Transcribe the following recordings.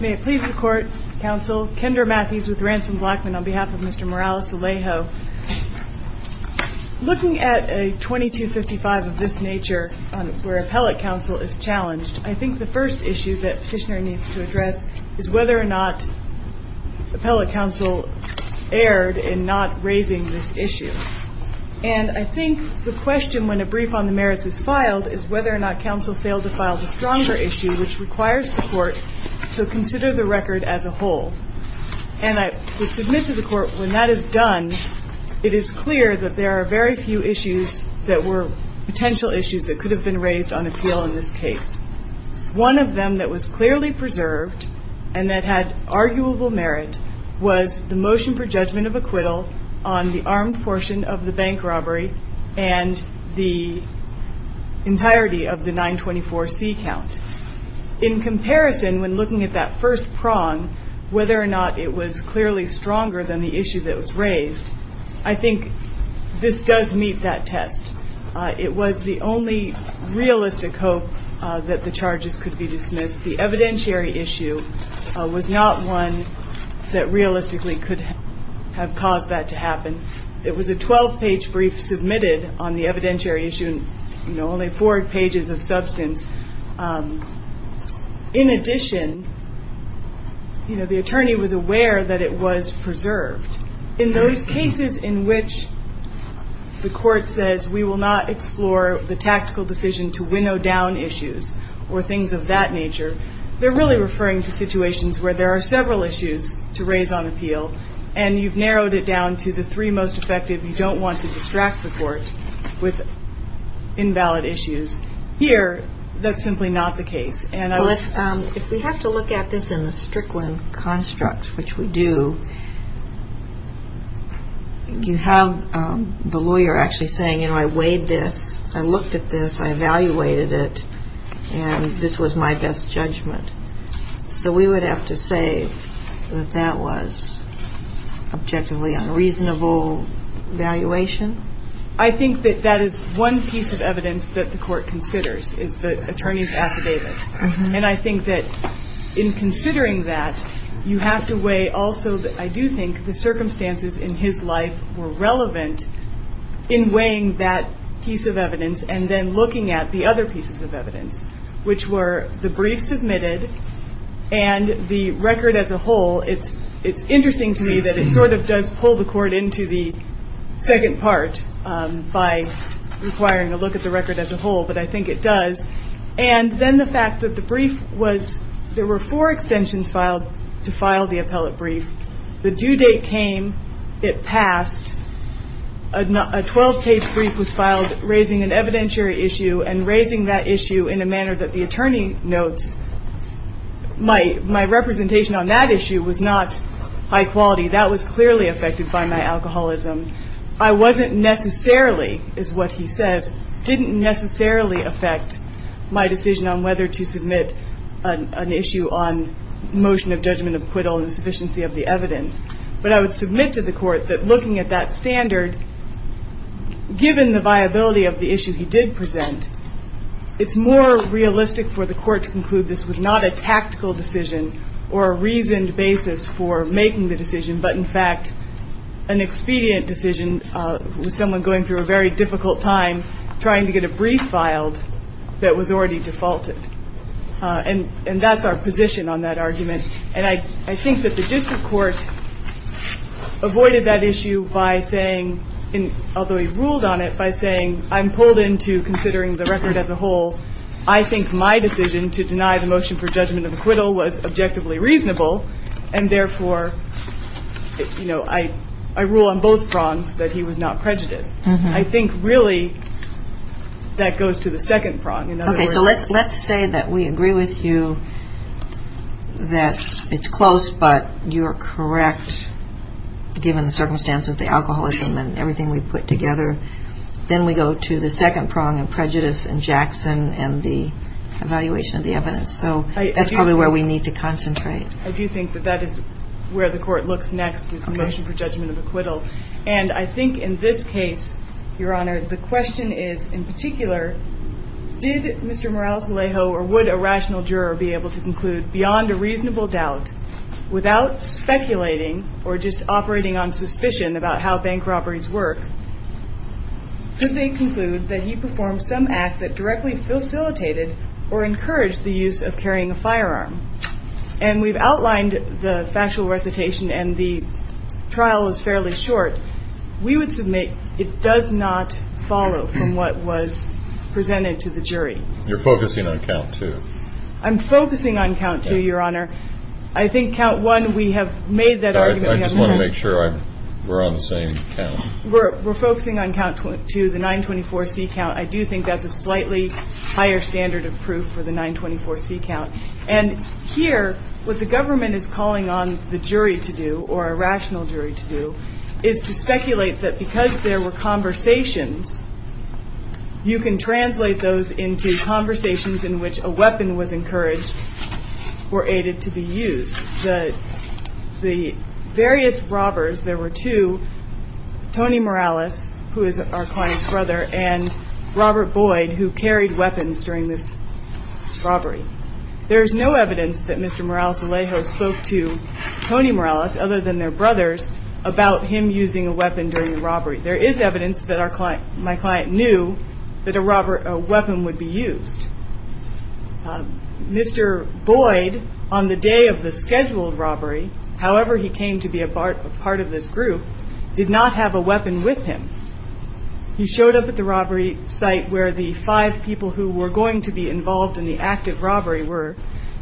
May it please the Court, Counsel, Kendra Matthews with Ransom Blackman on behalf of Mr. Morales Alejo. Looking at a 2255 of this nature where appellate counsel is challenged, I think the first issue that petitioner needs to address is whether or not appellate counsel erred in not raising this issue. And I think the question when a brief on the merits is filed is whether or not counsel failed to file the stronger issue which requires the Court to consider the record as a whole. And I would submit to the Court when that is done, it is clear that there are very few issues that were potential issues that could have been raised on appeal in this case. One of them that was clearly preserved and that had arguable merit was the motion for judgment of acquittal on the armed portion of the bank robbery and the entirety of the 924C count. In comparison, when looking at that first prong, whether or not it was clearly stronger than the issue that was raised, I think this does meet that test. It was the only realistic hope that the charges could be dismissed. The evidentiary issue was not one that realistically could have caused that to happen. It was a 12-page brief submitted on the evidentiary issue, only four pages of substance. In addition, the attorney was aware that it was preserved. In those cases in which the Court says we will not explore the tactical decision to winnow down issues or things of that nature, they're really referring to situations where there are several issues to raise on appeal and you've narrowed it down to the three most effective. You don't want to distract the Court with invalid issues. Here, that's simply not the case. If we have to look at this in the Strickland construct, which we do, you have the lawyer actually saying, you know, I weighed this, I looked at this, I evaluated it, and this was my best judgment. So we would have to say that that was objectively unreasonable evaluation? I think that that is one piece of evidence that the Court considers, is the attorney's affidavit. And I think that in considering that, you have to weigh also that I do think the circumstances in his life were relevant in weighing that piece of evidence and then the brief submitted and the record as a whole, it's interesting to me that it sort of does pull the Court into the second part by requiring a look at the record as a whole, but I think it does. And then the fact that the brief was, there were four extensions filed to file the appellate brief. The due date came, it passed, a 12-page brief was filed raising an evidentiary issue and raising that issue in a manner that the attorney notes, my representation on that issue was not high quality, that was clearly affected by my alcoholism. I wasn't necessarily, is what he says, didn't necessarily affect my decision on whether to submit an issue on motion of judgment of acquittal and sufficiency of the evidence. But I would submit to the Court, it's more realistic for the Court to conclude this was not a tactical decision or a reasoned basis for making the decision, but in fact an expedient decision with someone going through a very difficult time trying to get a brief filed that was already defaulted. And that's our position on that argument. And I think that the district court avoided that issue by saying, although he ruled on it, by saying, I'm pulled into considering the record as a whole, I think my decision to deny the motion for judgment of acquittal was objectively reasonable, and therefore, you know, I rule on both prongs that he was not prejudiced. I think really that goes to the second prong. Okay. So let's say that we agree with you that it's close, but you're correct, given the circumstance of the alcoholism and everything we put together. Then we go to the second prong of prejudice and Jackson and the evaluation of the evidence. So that's probably where we need to concentrate. I do think that that is where the Court looks next is the motion for judgment of acquittal. And I think in this case, Your Honor, the question is, in particular, did Mr. Morales-Alejo or would a rational juror be able to conclude beyond a reasonable doubt, without speculating or just operating on suspicion about how bank directly facilitated or encouraged the use of carrying a firearm? And we've outlined the factual recitation, and the trial is fairly short. We would submit it does not follow from what was presented to the jury. You're focusing on count two. I'm focusing on count two, Your Honor. I think count one, we have made that argument in the past. I just want to make sure we're on the same count. We're focusing on count two, the 924C count. I do think that's a slightly higher standard of proof for the 924C count. And here, what the government is calling on the jury to do or a rational jury to do is to speculate that because there were conversations, you can translate those into conversations in which a weapon was encouraged or aided to be used. The various robbers, there were two, Tony Morales, who is our client's brother, and Robert Boyd, who carried weapons during this robbery. There's no evidence that Mr. Morales-Alejo spoke to Tony Morales, other than their brothers, about him using a weapon during the robbery. There is evidence that my client knew that a weapon would be used. Mr. Boyd, on the day of the scheduled robbery, however he came to be a part of this group, did not have a weapon with him. He showed up at the robbery site where the five people who were going to be involved in the act of robbery were.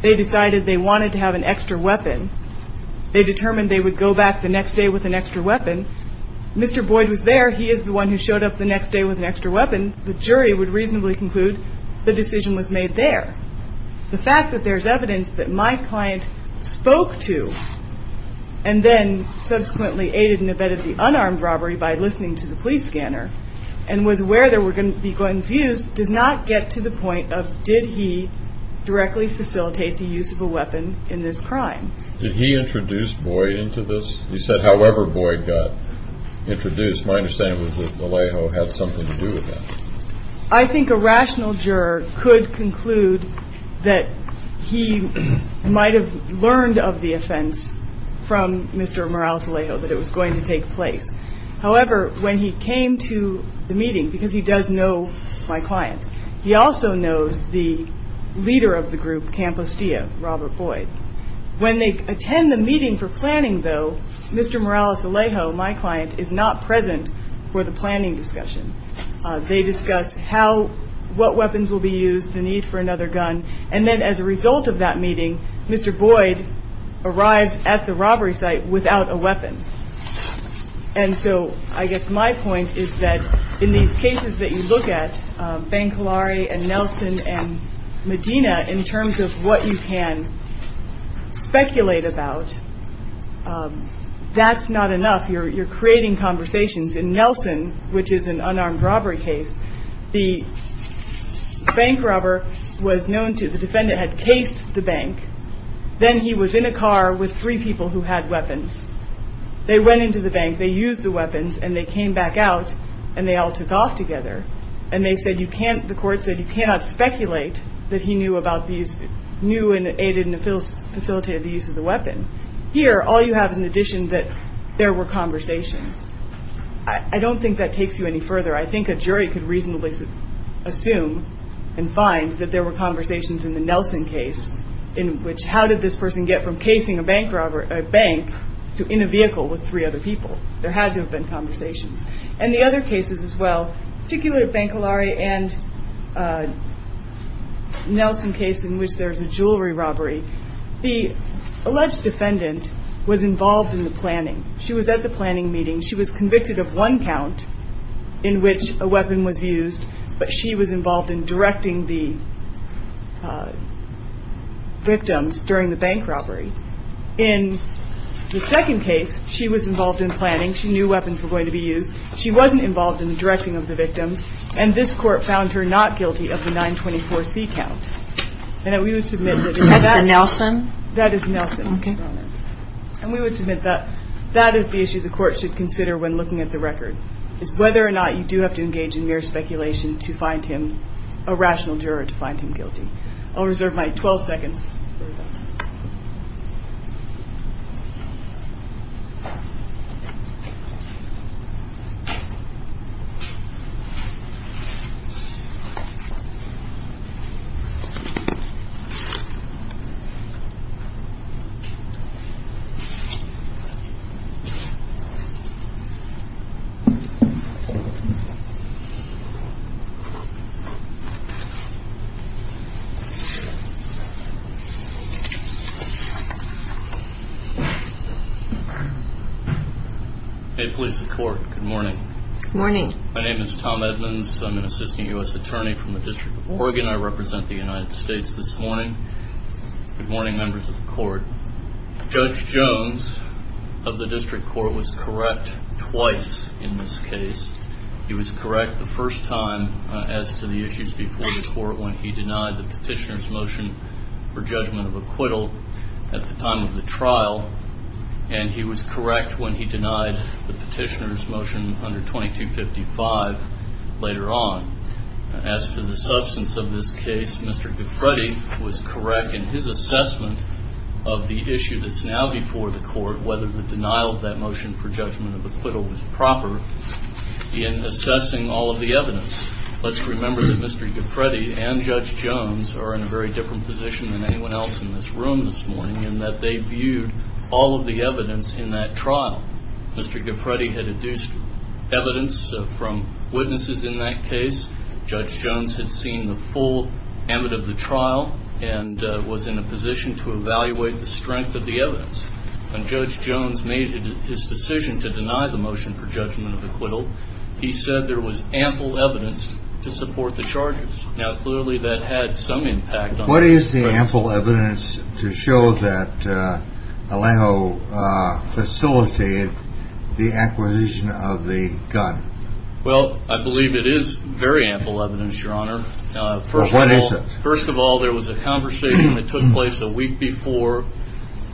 They decided they wanted to have an extra weapon. They determined they would go back the next day with an extra weapon. Mr. Boyd was there. He is the one who showed up the next day with a weapon. The decision was made there. The fact that there's evidence that my client spoke to, and then subsequently aided and abetted the unarmed robbery by listening to the police scanner, and was aware there were going to be gun views, does not get to the point of did he directly facilitate the use of a weapon in this crime. Did he introduce Boyd into this? He said however Boyd got introduced, my understanding was that Alejo had something to do with that. I think a rational juror could conclude that he might have learned of the offense from Mr. Morales-Alejo, that it was going to take place. However, when he came to the meeting, because he does know my client, he also knows the leader of the group, Campostilla, Robert Boyd. When they attend the meeting for planning though, Mr. Morales-Alejo, my client, is not present for the planning discussion. They discuss what weapons will be used, the need for another gun, and then as a result of that meeting, Mr. Boyd arrives at the robbery site without a weapon. I guess my point is that in these cases that you look at, Bancolari and Nelson and Medina, in terms of what you can speculate about, that's not enough. You're creating conversations in Nelson, which is an unarmed robbery case. The bank robber was known to, the defendant had caged the bank. Then he was in a car with three people who had weapons. They went into the bank, they used the weapons, and they came back out and they all took off together. And they said you can't, the court said you cannot speculate that he knew about these, knew and aided and facilitated the use of the weapon. Here, all you have is an addition that there were conversations. I don't think that takes you any further. I think a jury could reasonably assume and find that there were conversations in the Nelson case in which how did this person get from casing a bank to in a vehicle with three other people. There had to have been conversations. And the other cases as well, particularly Bancolari and Nelson case in which there's a jewelry robbery. The alleged defendant was involved in the planning. She was at the planning meeting. She was convicted of one count in which a weapon was used, but she was involved in directing the victims during the bank robbery. In the second case, she was involved in planning. She knew weapons were going to be used. She wasn't involved in the directing of the victims. And this court found her not guilty of the 924C count. And we would submit that that is the issue the court should consider when looking at the record, is whether or not you do have to engage in mere speculation to find him a rational juror to find him guilty. I'll reserve my 12 seconds. Hey, police and court. Good morning. Good morning. My name is Tom Edmonds. I'm an assistant U.S. attorney from the District of Oregon. I represent the United States this morning. Good morning, members of the court. Judge Jones of the district court was correct twice in this case. He was correct the first time as to the issues before the court when he denied the petitioner's motion for judgment of acquittal at the time of the trial. And he was correct when he denied the petitioner's motion under 2255 later on. As to the substance of this case, Mr. Giffredi was correct in his assessment of the issue that's now before the court, whether the denial of that motion for judgment of acquittal was proper in assessing all of the evidence. Let's remember that Mr. Giffredi and Judge Jones are in a very different position than anyone else in this room this morning in that they viewed all of the evidence in that trial. Mr. Giffredi had deduced evidence from witnesses in that case. Judge Jones had seen the full ambit of the trial and was in a position to evaluate the strength of the evidence. When Judge Jones made his decision to deny the motion for judgment of acquittal, he said there was ample evidence to support the charges. Now, clearly that had some impact on the process. What is the ample evidence to show that Alejo facilitated the acquisition of the gun? Well, I believe it is very ample evidence, Your Honor. First of all, there was a conversation that took place a week before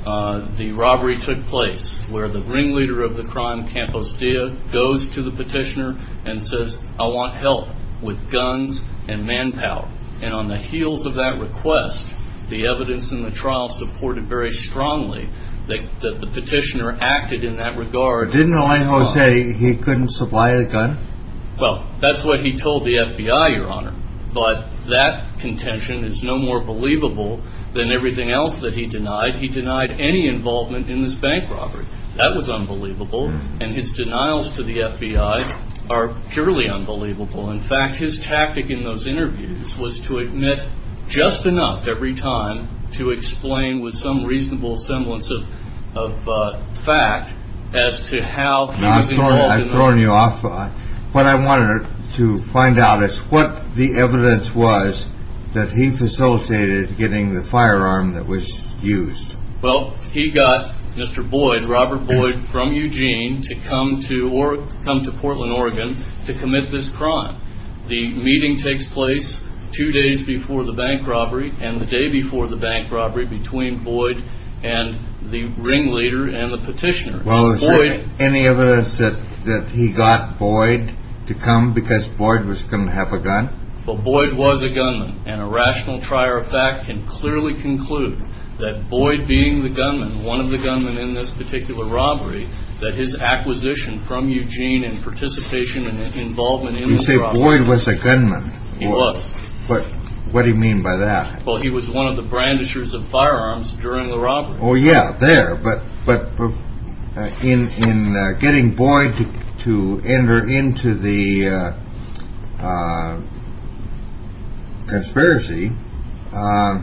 the robbery took place where the ringleader of the crime, Campo Stia, goes to the petitioner and says, I want help with guns and manpower. And on the heels of that request, the evidence in the petitioner acted in that regard. Didn't Alejo say he couldn't supply a gun? Well, that's what he told the FBI, Your Honor. But that contention is no more believable than everything else that he denied. He denied any involvement in this bank robbery. That was unbelievable. And his denials to the FBI are purely unbelievable. In fact, his tactic in those interviews was to admit just enough every time to explain with some reasonable semblance of fact as to how he was involved in this. I've thrown you off. What I wanted to find out is what the evidence was that he facilitated getting the firearm that was used. Well, he got Mr. Boyd, Robert Boyd, from Eugene to come to Portland, Oregon to commit this crime. The meeting takes place two days before the bank robbery and the day before the bank robbery between Boyd and the ringleader and the petitioner. Well, is there any evidence that he got Boyd to come because Boyd was going to have a gun? Well, Boyd was a gunman. And a rational trier of fact can clearly conclude that Boyd being the gunman, one of the gunmen in this particular robbery, that his acquisition from Eugene and participation and involvement in the robbery. You say Boyd was a gunman. He was. But what do you mean by that? Well, he was one of the brandishers of firearms during the robbery. Oh, yeah, there. But but in in getting Boyd to enter into the. Conspiracy or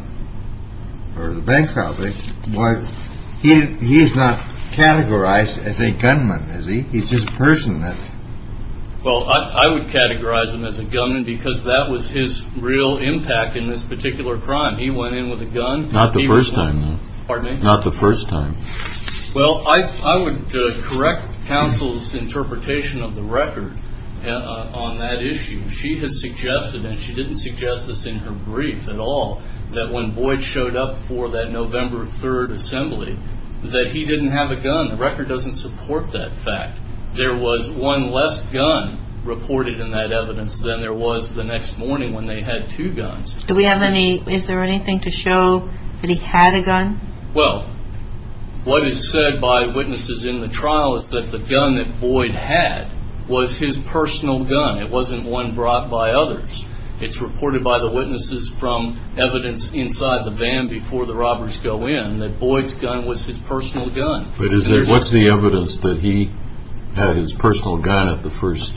the bank robberies, why he is not categorized as a gunman, is he? He's just a person that. Well, I would categorize him as a gunman because that was his real impact in this particular crime. He went in with a gun. Not the first time. Pardon me? Not the first time. Well, I would correct counsel's interpretation of the record on that issue. She has suggested and she didn't suggest this in her brief at all, that when Boyd showed up for that November 3rd assembly that he didn't have a gun. The record doesn't support that fact. There was one less gun reported in that evidence than there was the next morning when they had two guns. Do we have any? Is there anything to show that he had a gun? Well, what is said by witnesses in the trial is that the gun that Boyd had was his personal gun. It wasn't one brought by others. It's reported by the witnesses from evidence inside the van before the robbers go in that Boyd's gun was his personal gun. But is there what's the evidence that he had his personal gun at the first?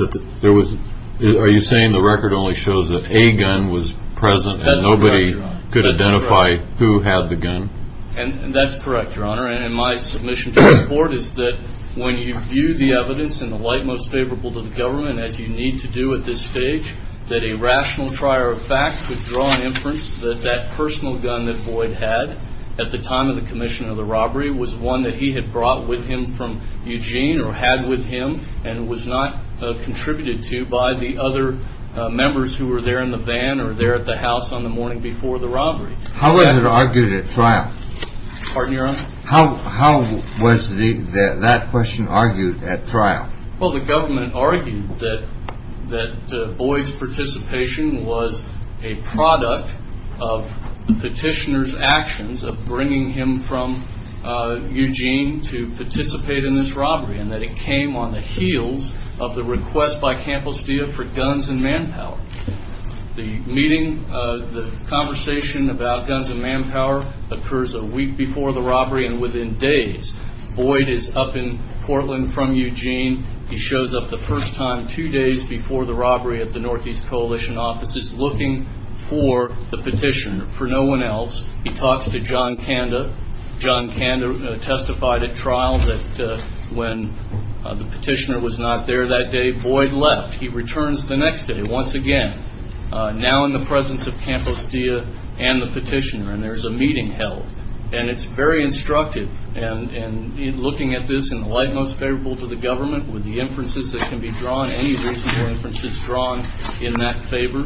Are you saying the record only shows that a gun was present and nobody could identify who had the gun? That's correct, your honor. And my submission to the court is that when you view the evidence in the light most favorable to the government as you need to do at this stage, that a rational trier of fact could draw an inference that that personal gun that Boyd had at the time of the commission of the robbery was one that he had brought with him from Eugene or had with him and was not contributed to by the other members who were there in the van or there at the house on the morning before the robbery. How was it argued at trial? Pardon your honor? How was that question argued at trial? Well, the government argued that Boyd's participation was a product of the petitioner's request from Eugene to participate in this robbery and that it came on the heels of the request by Campos Dia for guns and manpower. The meeting, the conversation about guns and manpower occurs a week before the robbery and within days. Boyd is up in Portland from Eugene. He shows up the first time two days before the robbery at the Northeast Coalition offices looking for the petitioner, for no one else. He talks to John Kanda. John Kanda testified at trial that when the petitioner was not there that day, Boyd left. He returns the next day once again, now in the presence of Campos Dia and the petitioner and there's a meeting held and it's very instructive and looking at this in the light most favorable to the government with the inferences that can be drawn, any reasonable inferences drawn in that favor.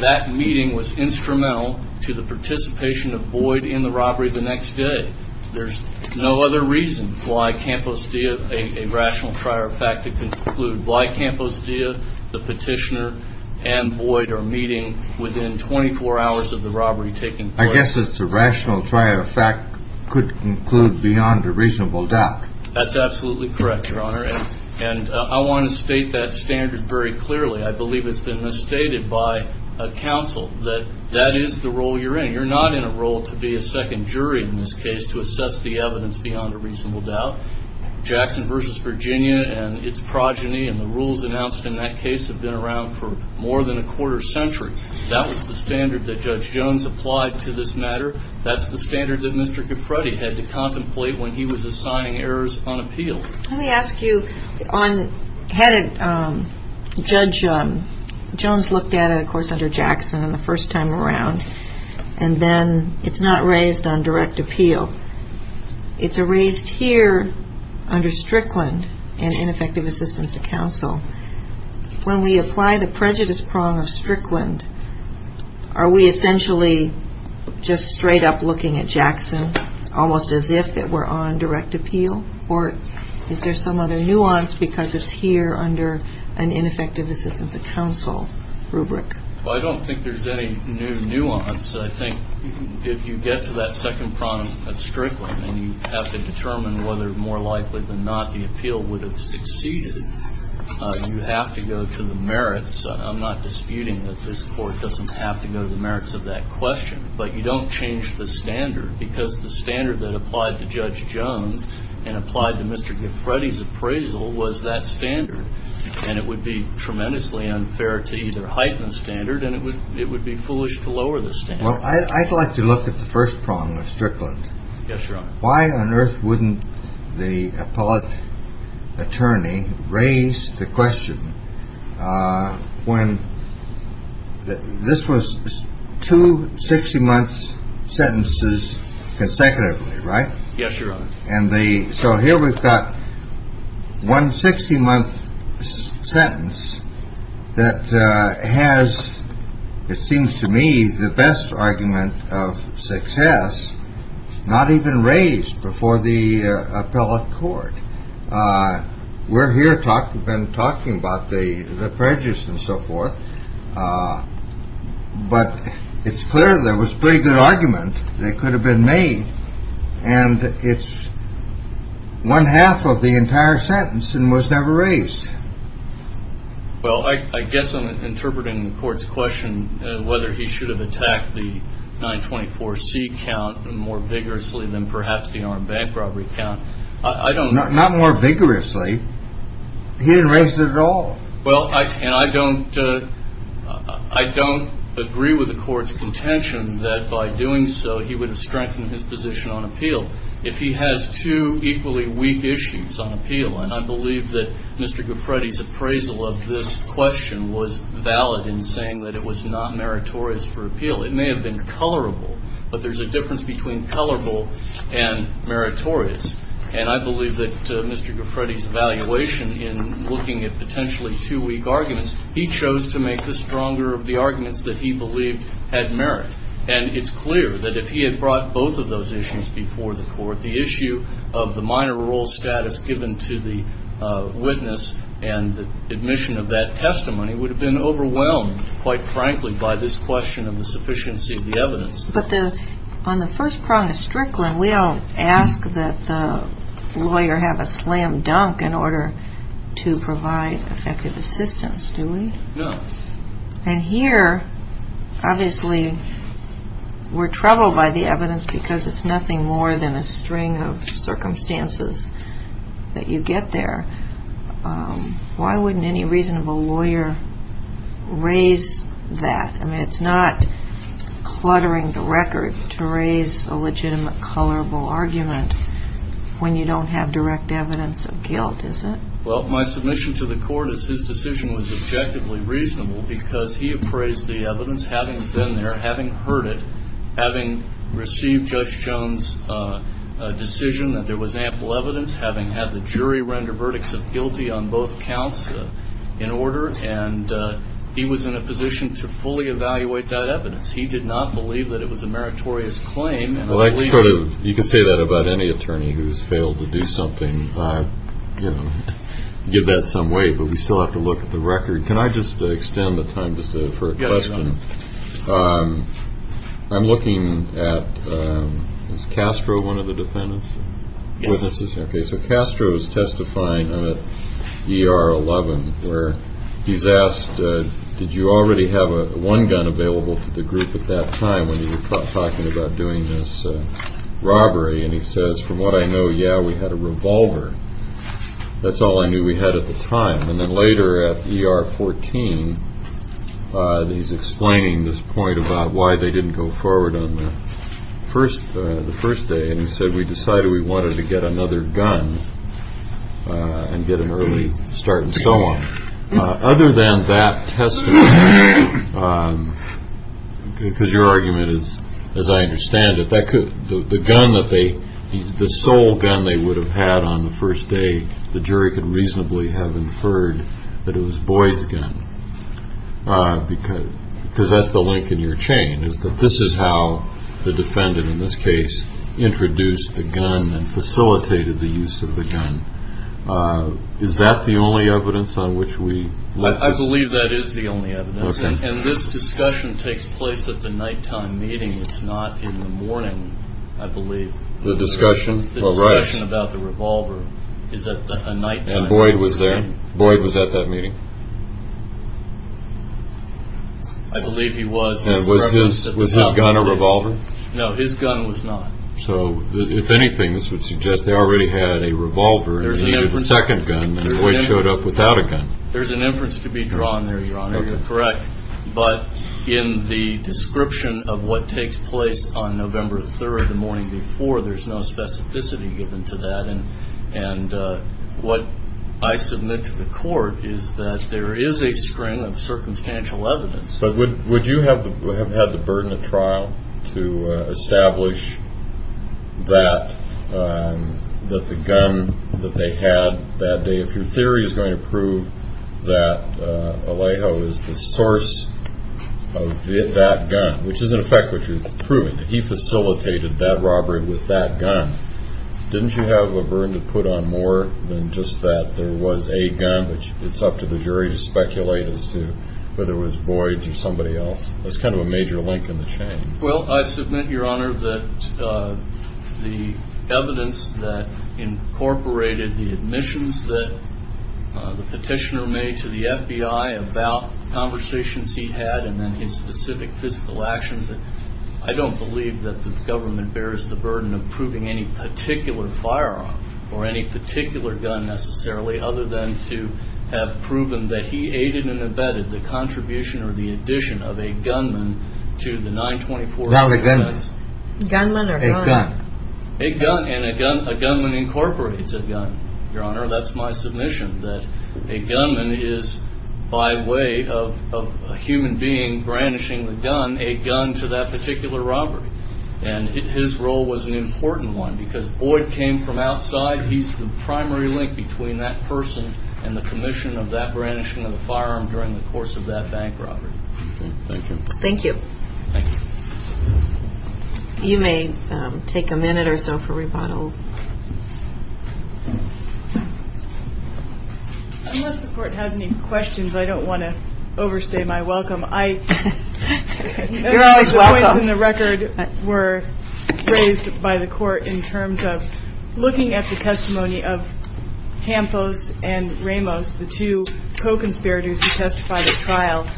That meeting was instrumental to the participation of Boyd in the robbery the next day. There's no other reason why Campos Dia, a rational trier of fact, to conclude why Campos Dia, the petitioner, and Boyd are meeting within 24 hours of the robbery taking place. I guess it's a rational trier of fact could conclude beyond a reasonable doubt. That's absolutely correct, your honor, and I want to state that standard very clearly. I believe it's been misstated by counsel that that is the role you're in. You're not in a role to be a second jury in this case to assess the evidence beyond a reasonable doubt. Jackson v. Virginia and its progeny and the rules announced in that case have been around for more than a quarter century. That was the standard that Judge Jones applied to this matter. That's the standard that Mr. Capretti had to contemplate when he was assigning errors on appeal. Let me ask you, had Judge Jones looked at it, of course, under Jackson the first time around, and then it's not raised on direct appeal. It's raised here under Strickland in Ineffective Assistance to Counsel. When we apply the prejudice prong of Strickland, are we essentially just straight up looking at Jackson almost as if it were on direct appeal, or is there some other nuance because it's here under an Ineffective Assistance to Counsel rubric? Well, I don't think there's any new nuance. I think if you get to that second prong of Strickland and you have to determine whether, more likely than not, the appeal would have succeeded, you have to go to the merits. I'm not disputing that this Court doesn't have to go to the merits of that question, but you don't change the standard because the standard that was used and applied to Mr. Capretti's appraisal was that standard, and it would be tremendously unfair to either heighten the standard, and it would be foolish to lower the standard. Well, I'd like to look at the first prong of Strickland. Yes, Your Honor. Why on earth wouldn't the appellate attorney raise the question when this was two 60-months sentences consecutively, right? Yes, Your Honor. So here we've got one 60-month sentence that has, it seems to me, the best argument of success not even raised before the appellate court. We're here talking about the prejudice and so forth, but it's clear there was a pretty good argument that could have been made, and it's one half of the entire sentence and was never raised. Well, I guess I'm interpreting the Court's question whether he should have attacked the 924C count more vigorously than perhaps the armed bank robbery count. I don't know. Not more vigorously. He didn't raise it at all. Well, and I don't agree with the Court's contention that by doing so he would have strengthened his position on appeal. If he has two equally weak issues on appeal, and I believe that Mr. Guffredi's appraisal of this question was valid in saying that it was not meritorious for appeal. It may have been colorable, but there's a difference between colorable and meritorious, and I believe that Mr. Guffredi's evaluation in looking at potentially two weak arguments, he chose to make the stronger of the arguments that he believed had merit. And it's clear that if he had brought both of those issues before the Court, the issue of the minor rule status given to the witness and the admission of that testimony would have been overwhelmed, quite frankly, by this question of the sufficiency of the evidence. But on the first prong of Strickland, we don't ask that the lawyer have a slam dunk in order to provide effective assistance, do we? No. And here, obviously, we're troubled by the evidence because it's nothing more than a string of circumstances that you get there. Why wouldn't any reasonable lawyer raise that? I mean, it's not cluttering the record to raise a legitimate colorable argument when you don't have direct evidence of guilt, is it? Well, my submission to the Court is his decision was objectively reasonable because he appraised the evidence having been there, having heard it, having received Judge Jones' decision that there was ample evidence, having had the jury render verdicts of guilty on both counts in order, and he was in a position to fully evaluate that evidence. He did not believe that it was a meritorious claim. I like to sort of, you can say that about any attorney who's failed to do something, you know, give that some weight, but we still have to look at the record. Can I just extend the time just for a question? Yes. I'm looking at, is Castro one of the defendants? Yes. Okay, so Castro is testifying at ER 11 where he's asked, did you already have a one gun available to the group at that time when you were talking about doing this robbery? And he says, from what I know, yeah, we had a revolver. That's all I knew we had at the time. And then later at ER 14, he's explaining this point about why they didn't go forward on the first day, and he said, we decided we wanted to get another gun and get an early start and so on. Other than that testimony, because your argument is, as I understand it, that could, the gun that they, the sole gun they would have had on the first day, the jury could reasonably have inferred that it was Boyd's gun, because that's the link in your chain, is that this is how the defendant in this case introduced the gun and facilitated the use of the gun. Is that the only evidence on which we let this? I believe that is the only evidence, and this discussion takes place at the nighttime meeting. It's not in the morning, I believe. The discussion? The discussion about the revolver is at a nighttime meeting. And Boyd was there? Boyd was at that meeting? I believe he was. And was his gun a revolver? No, his gun was not. So, if anything, this would suggest they already had a revolver and needed a second gun, and Boyd showed up without a gun. There's an inference to be drawn there, Your Honor. You're correct. But in the description of what takes place on November 3rd, the morning before, there's no specificity given to that. And what I submit to the court is that there is a string of circumstantial evidence. But would you have had the burden of trial to establish that the gun that they had that day, if your theory is going to prove that Alejo is the source of that gun, which is in effect what you're proving, that he facilitated that robbery with that gun, didn't you have a burden to put on more than just that there was a gun, which it's up to the jury to speculate as to whether it was Boyd's or somebody else? There's kind of a major link in the chain. Well, I submit, Your Honor, that the evidence that incorporated the admissions that the petitioner made to the FBI about conversations he had and then his specific physical actions, I don't believe that the government bears the burden of proving any particular firearm or any particular gun, necessarily, other than to have proven that he aided and abetted the contribution or the addition of a gunman to the 924. Not a gunman. Gunman or a gun. A gun. And a gunman incorporates a gun, Your Honor. That's my submission, that a gunman is, by way of a human being brandishing the gun, a gun to that particular robbery. And his role was an important one because Boyd came from outside. He's the primary link between that person and the commission of that brandishing of the firearm during the course of that bank robbery. Thank you. Thank you. Thank you. You may take a minute or so for rebuttal. Unless the Court has any questions, I don't want to overstay my welcome. You're always welcome. Two points in the record were raised by the Court in terms of looking at the testimony of Campos and Ramos, the two co-conspirators who testified at trial.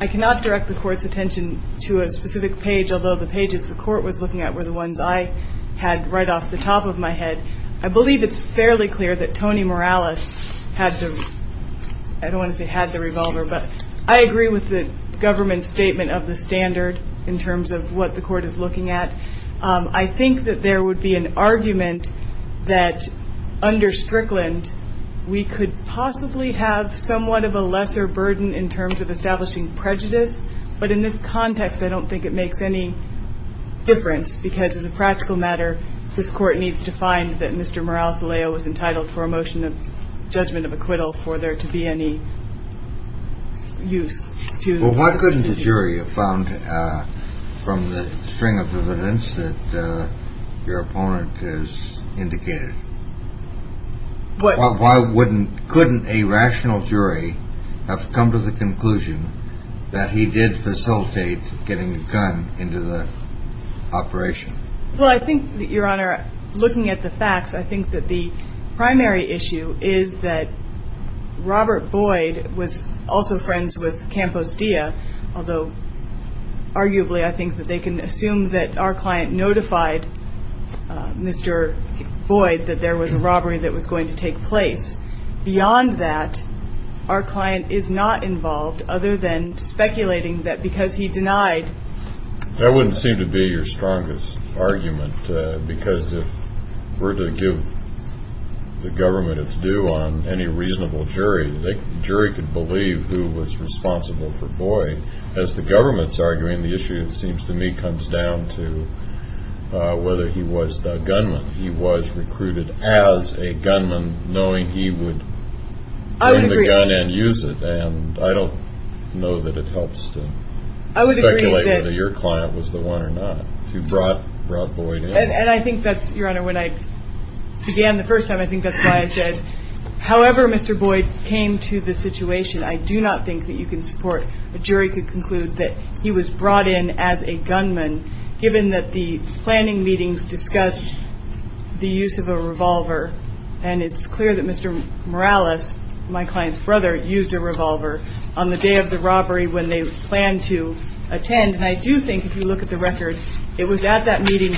I cannot direct the Court's attention to a specific page, although the pages the Court was looking at were the ones I had right off the top of my head. I believe it's fairly clear that Tony Morales had the, I don't want to say had the revolver, but I agree with the government's statement of the standard in terms of what the Court is looking at. I think that there would be an argument that, under Strickland, we could possibly have somewhat of a lesser burden in terms of establishing prejudice. But in this context, I don't think it makes any difference because, as a practical matter, this Court needs to find that Mr. Morales-Aleo was entitled for a motion of judgment of acquittal for there to be any use to the procedure. Well, why couldn't a jury have found from the string of evidence that your opponent has indicated? Why couldn't a rational jury have come to the conclusion that he did facilitate getting the gun into the operation? Well, I think, Your Honor, looking at the facts, I think that the primary issue is that Robert Boyd was also friends with Campos Dia, although arguably I think that they can assume that our client notified Mr. Boyd that there was a robbery that was going to take place. Beyond that, our client is not involved, other than speculating that because he denied. That wouldn't seem to be your strongest argument because if we're to give the government its due on any reasonable jury, the jury could believe who was responsible for Boyd. As the government's arguing, the issue, it seems to me, comes down to whether he was the gunman. He was recruited as a gunman, knowing he would bring the gun and use it, and I don't know that it helps to speculate whether your client was the one or not who brought Boyd in. And I think that's, Your Honor, when I began the first time, I think that's why I said, however Mr. Boyd came to the situation, I do not think that you can support a jury could conclude that he was brought in as a gunman, given that the planning meetings discussed the use of a revolver, and it's clear that Mr. Morales, my client's brother, used a revolver on the day of the robbery when they planned to attend. And I do think, if you look at the record, it was at that meeting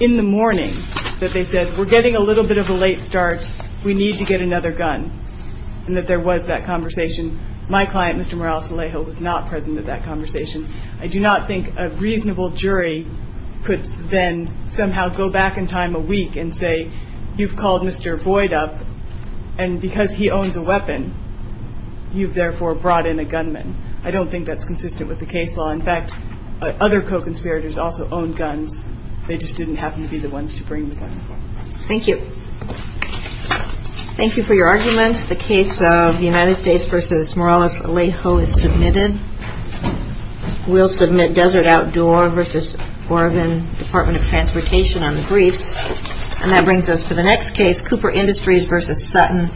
in the morning that they said, we're getting a little bit of a late start, we need to get another gun, and that there was that conversation. My client, Mr. Morales Alejo, was not present at that conversation. I do not think a reasonable jury could then somehow go back in time a week and say, you've called Mr. Boyd up, and because he owns a weapon, you've therefore brought in a gunman. I don't think that's consistent with the case law. In fact, other co-conspirators also own guns. They just didn't happen to be the ones to bring the gun. Thank you. Thank you for your arguments. The case of the United States v. Morales Alejo is submitted. We'll submit Desert Outdoor v. Oregon Department of Transportation on the briefs. And that brings us to the next case, Cooper Industries v. Sutton & Johnson.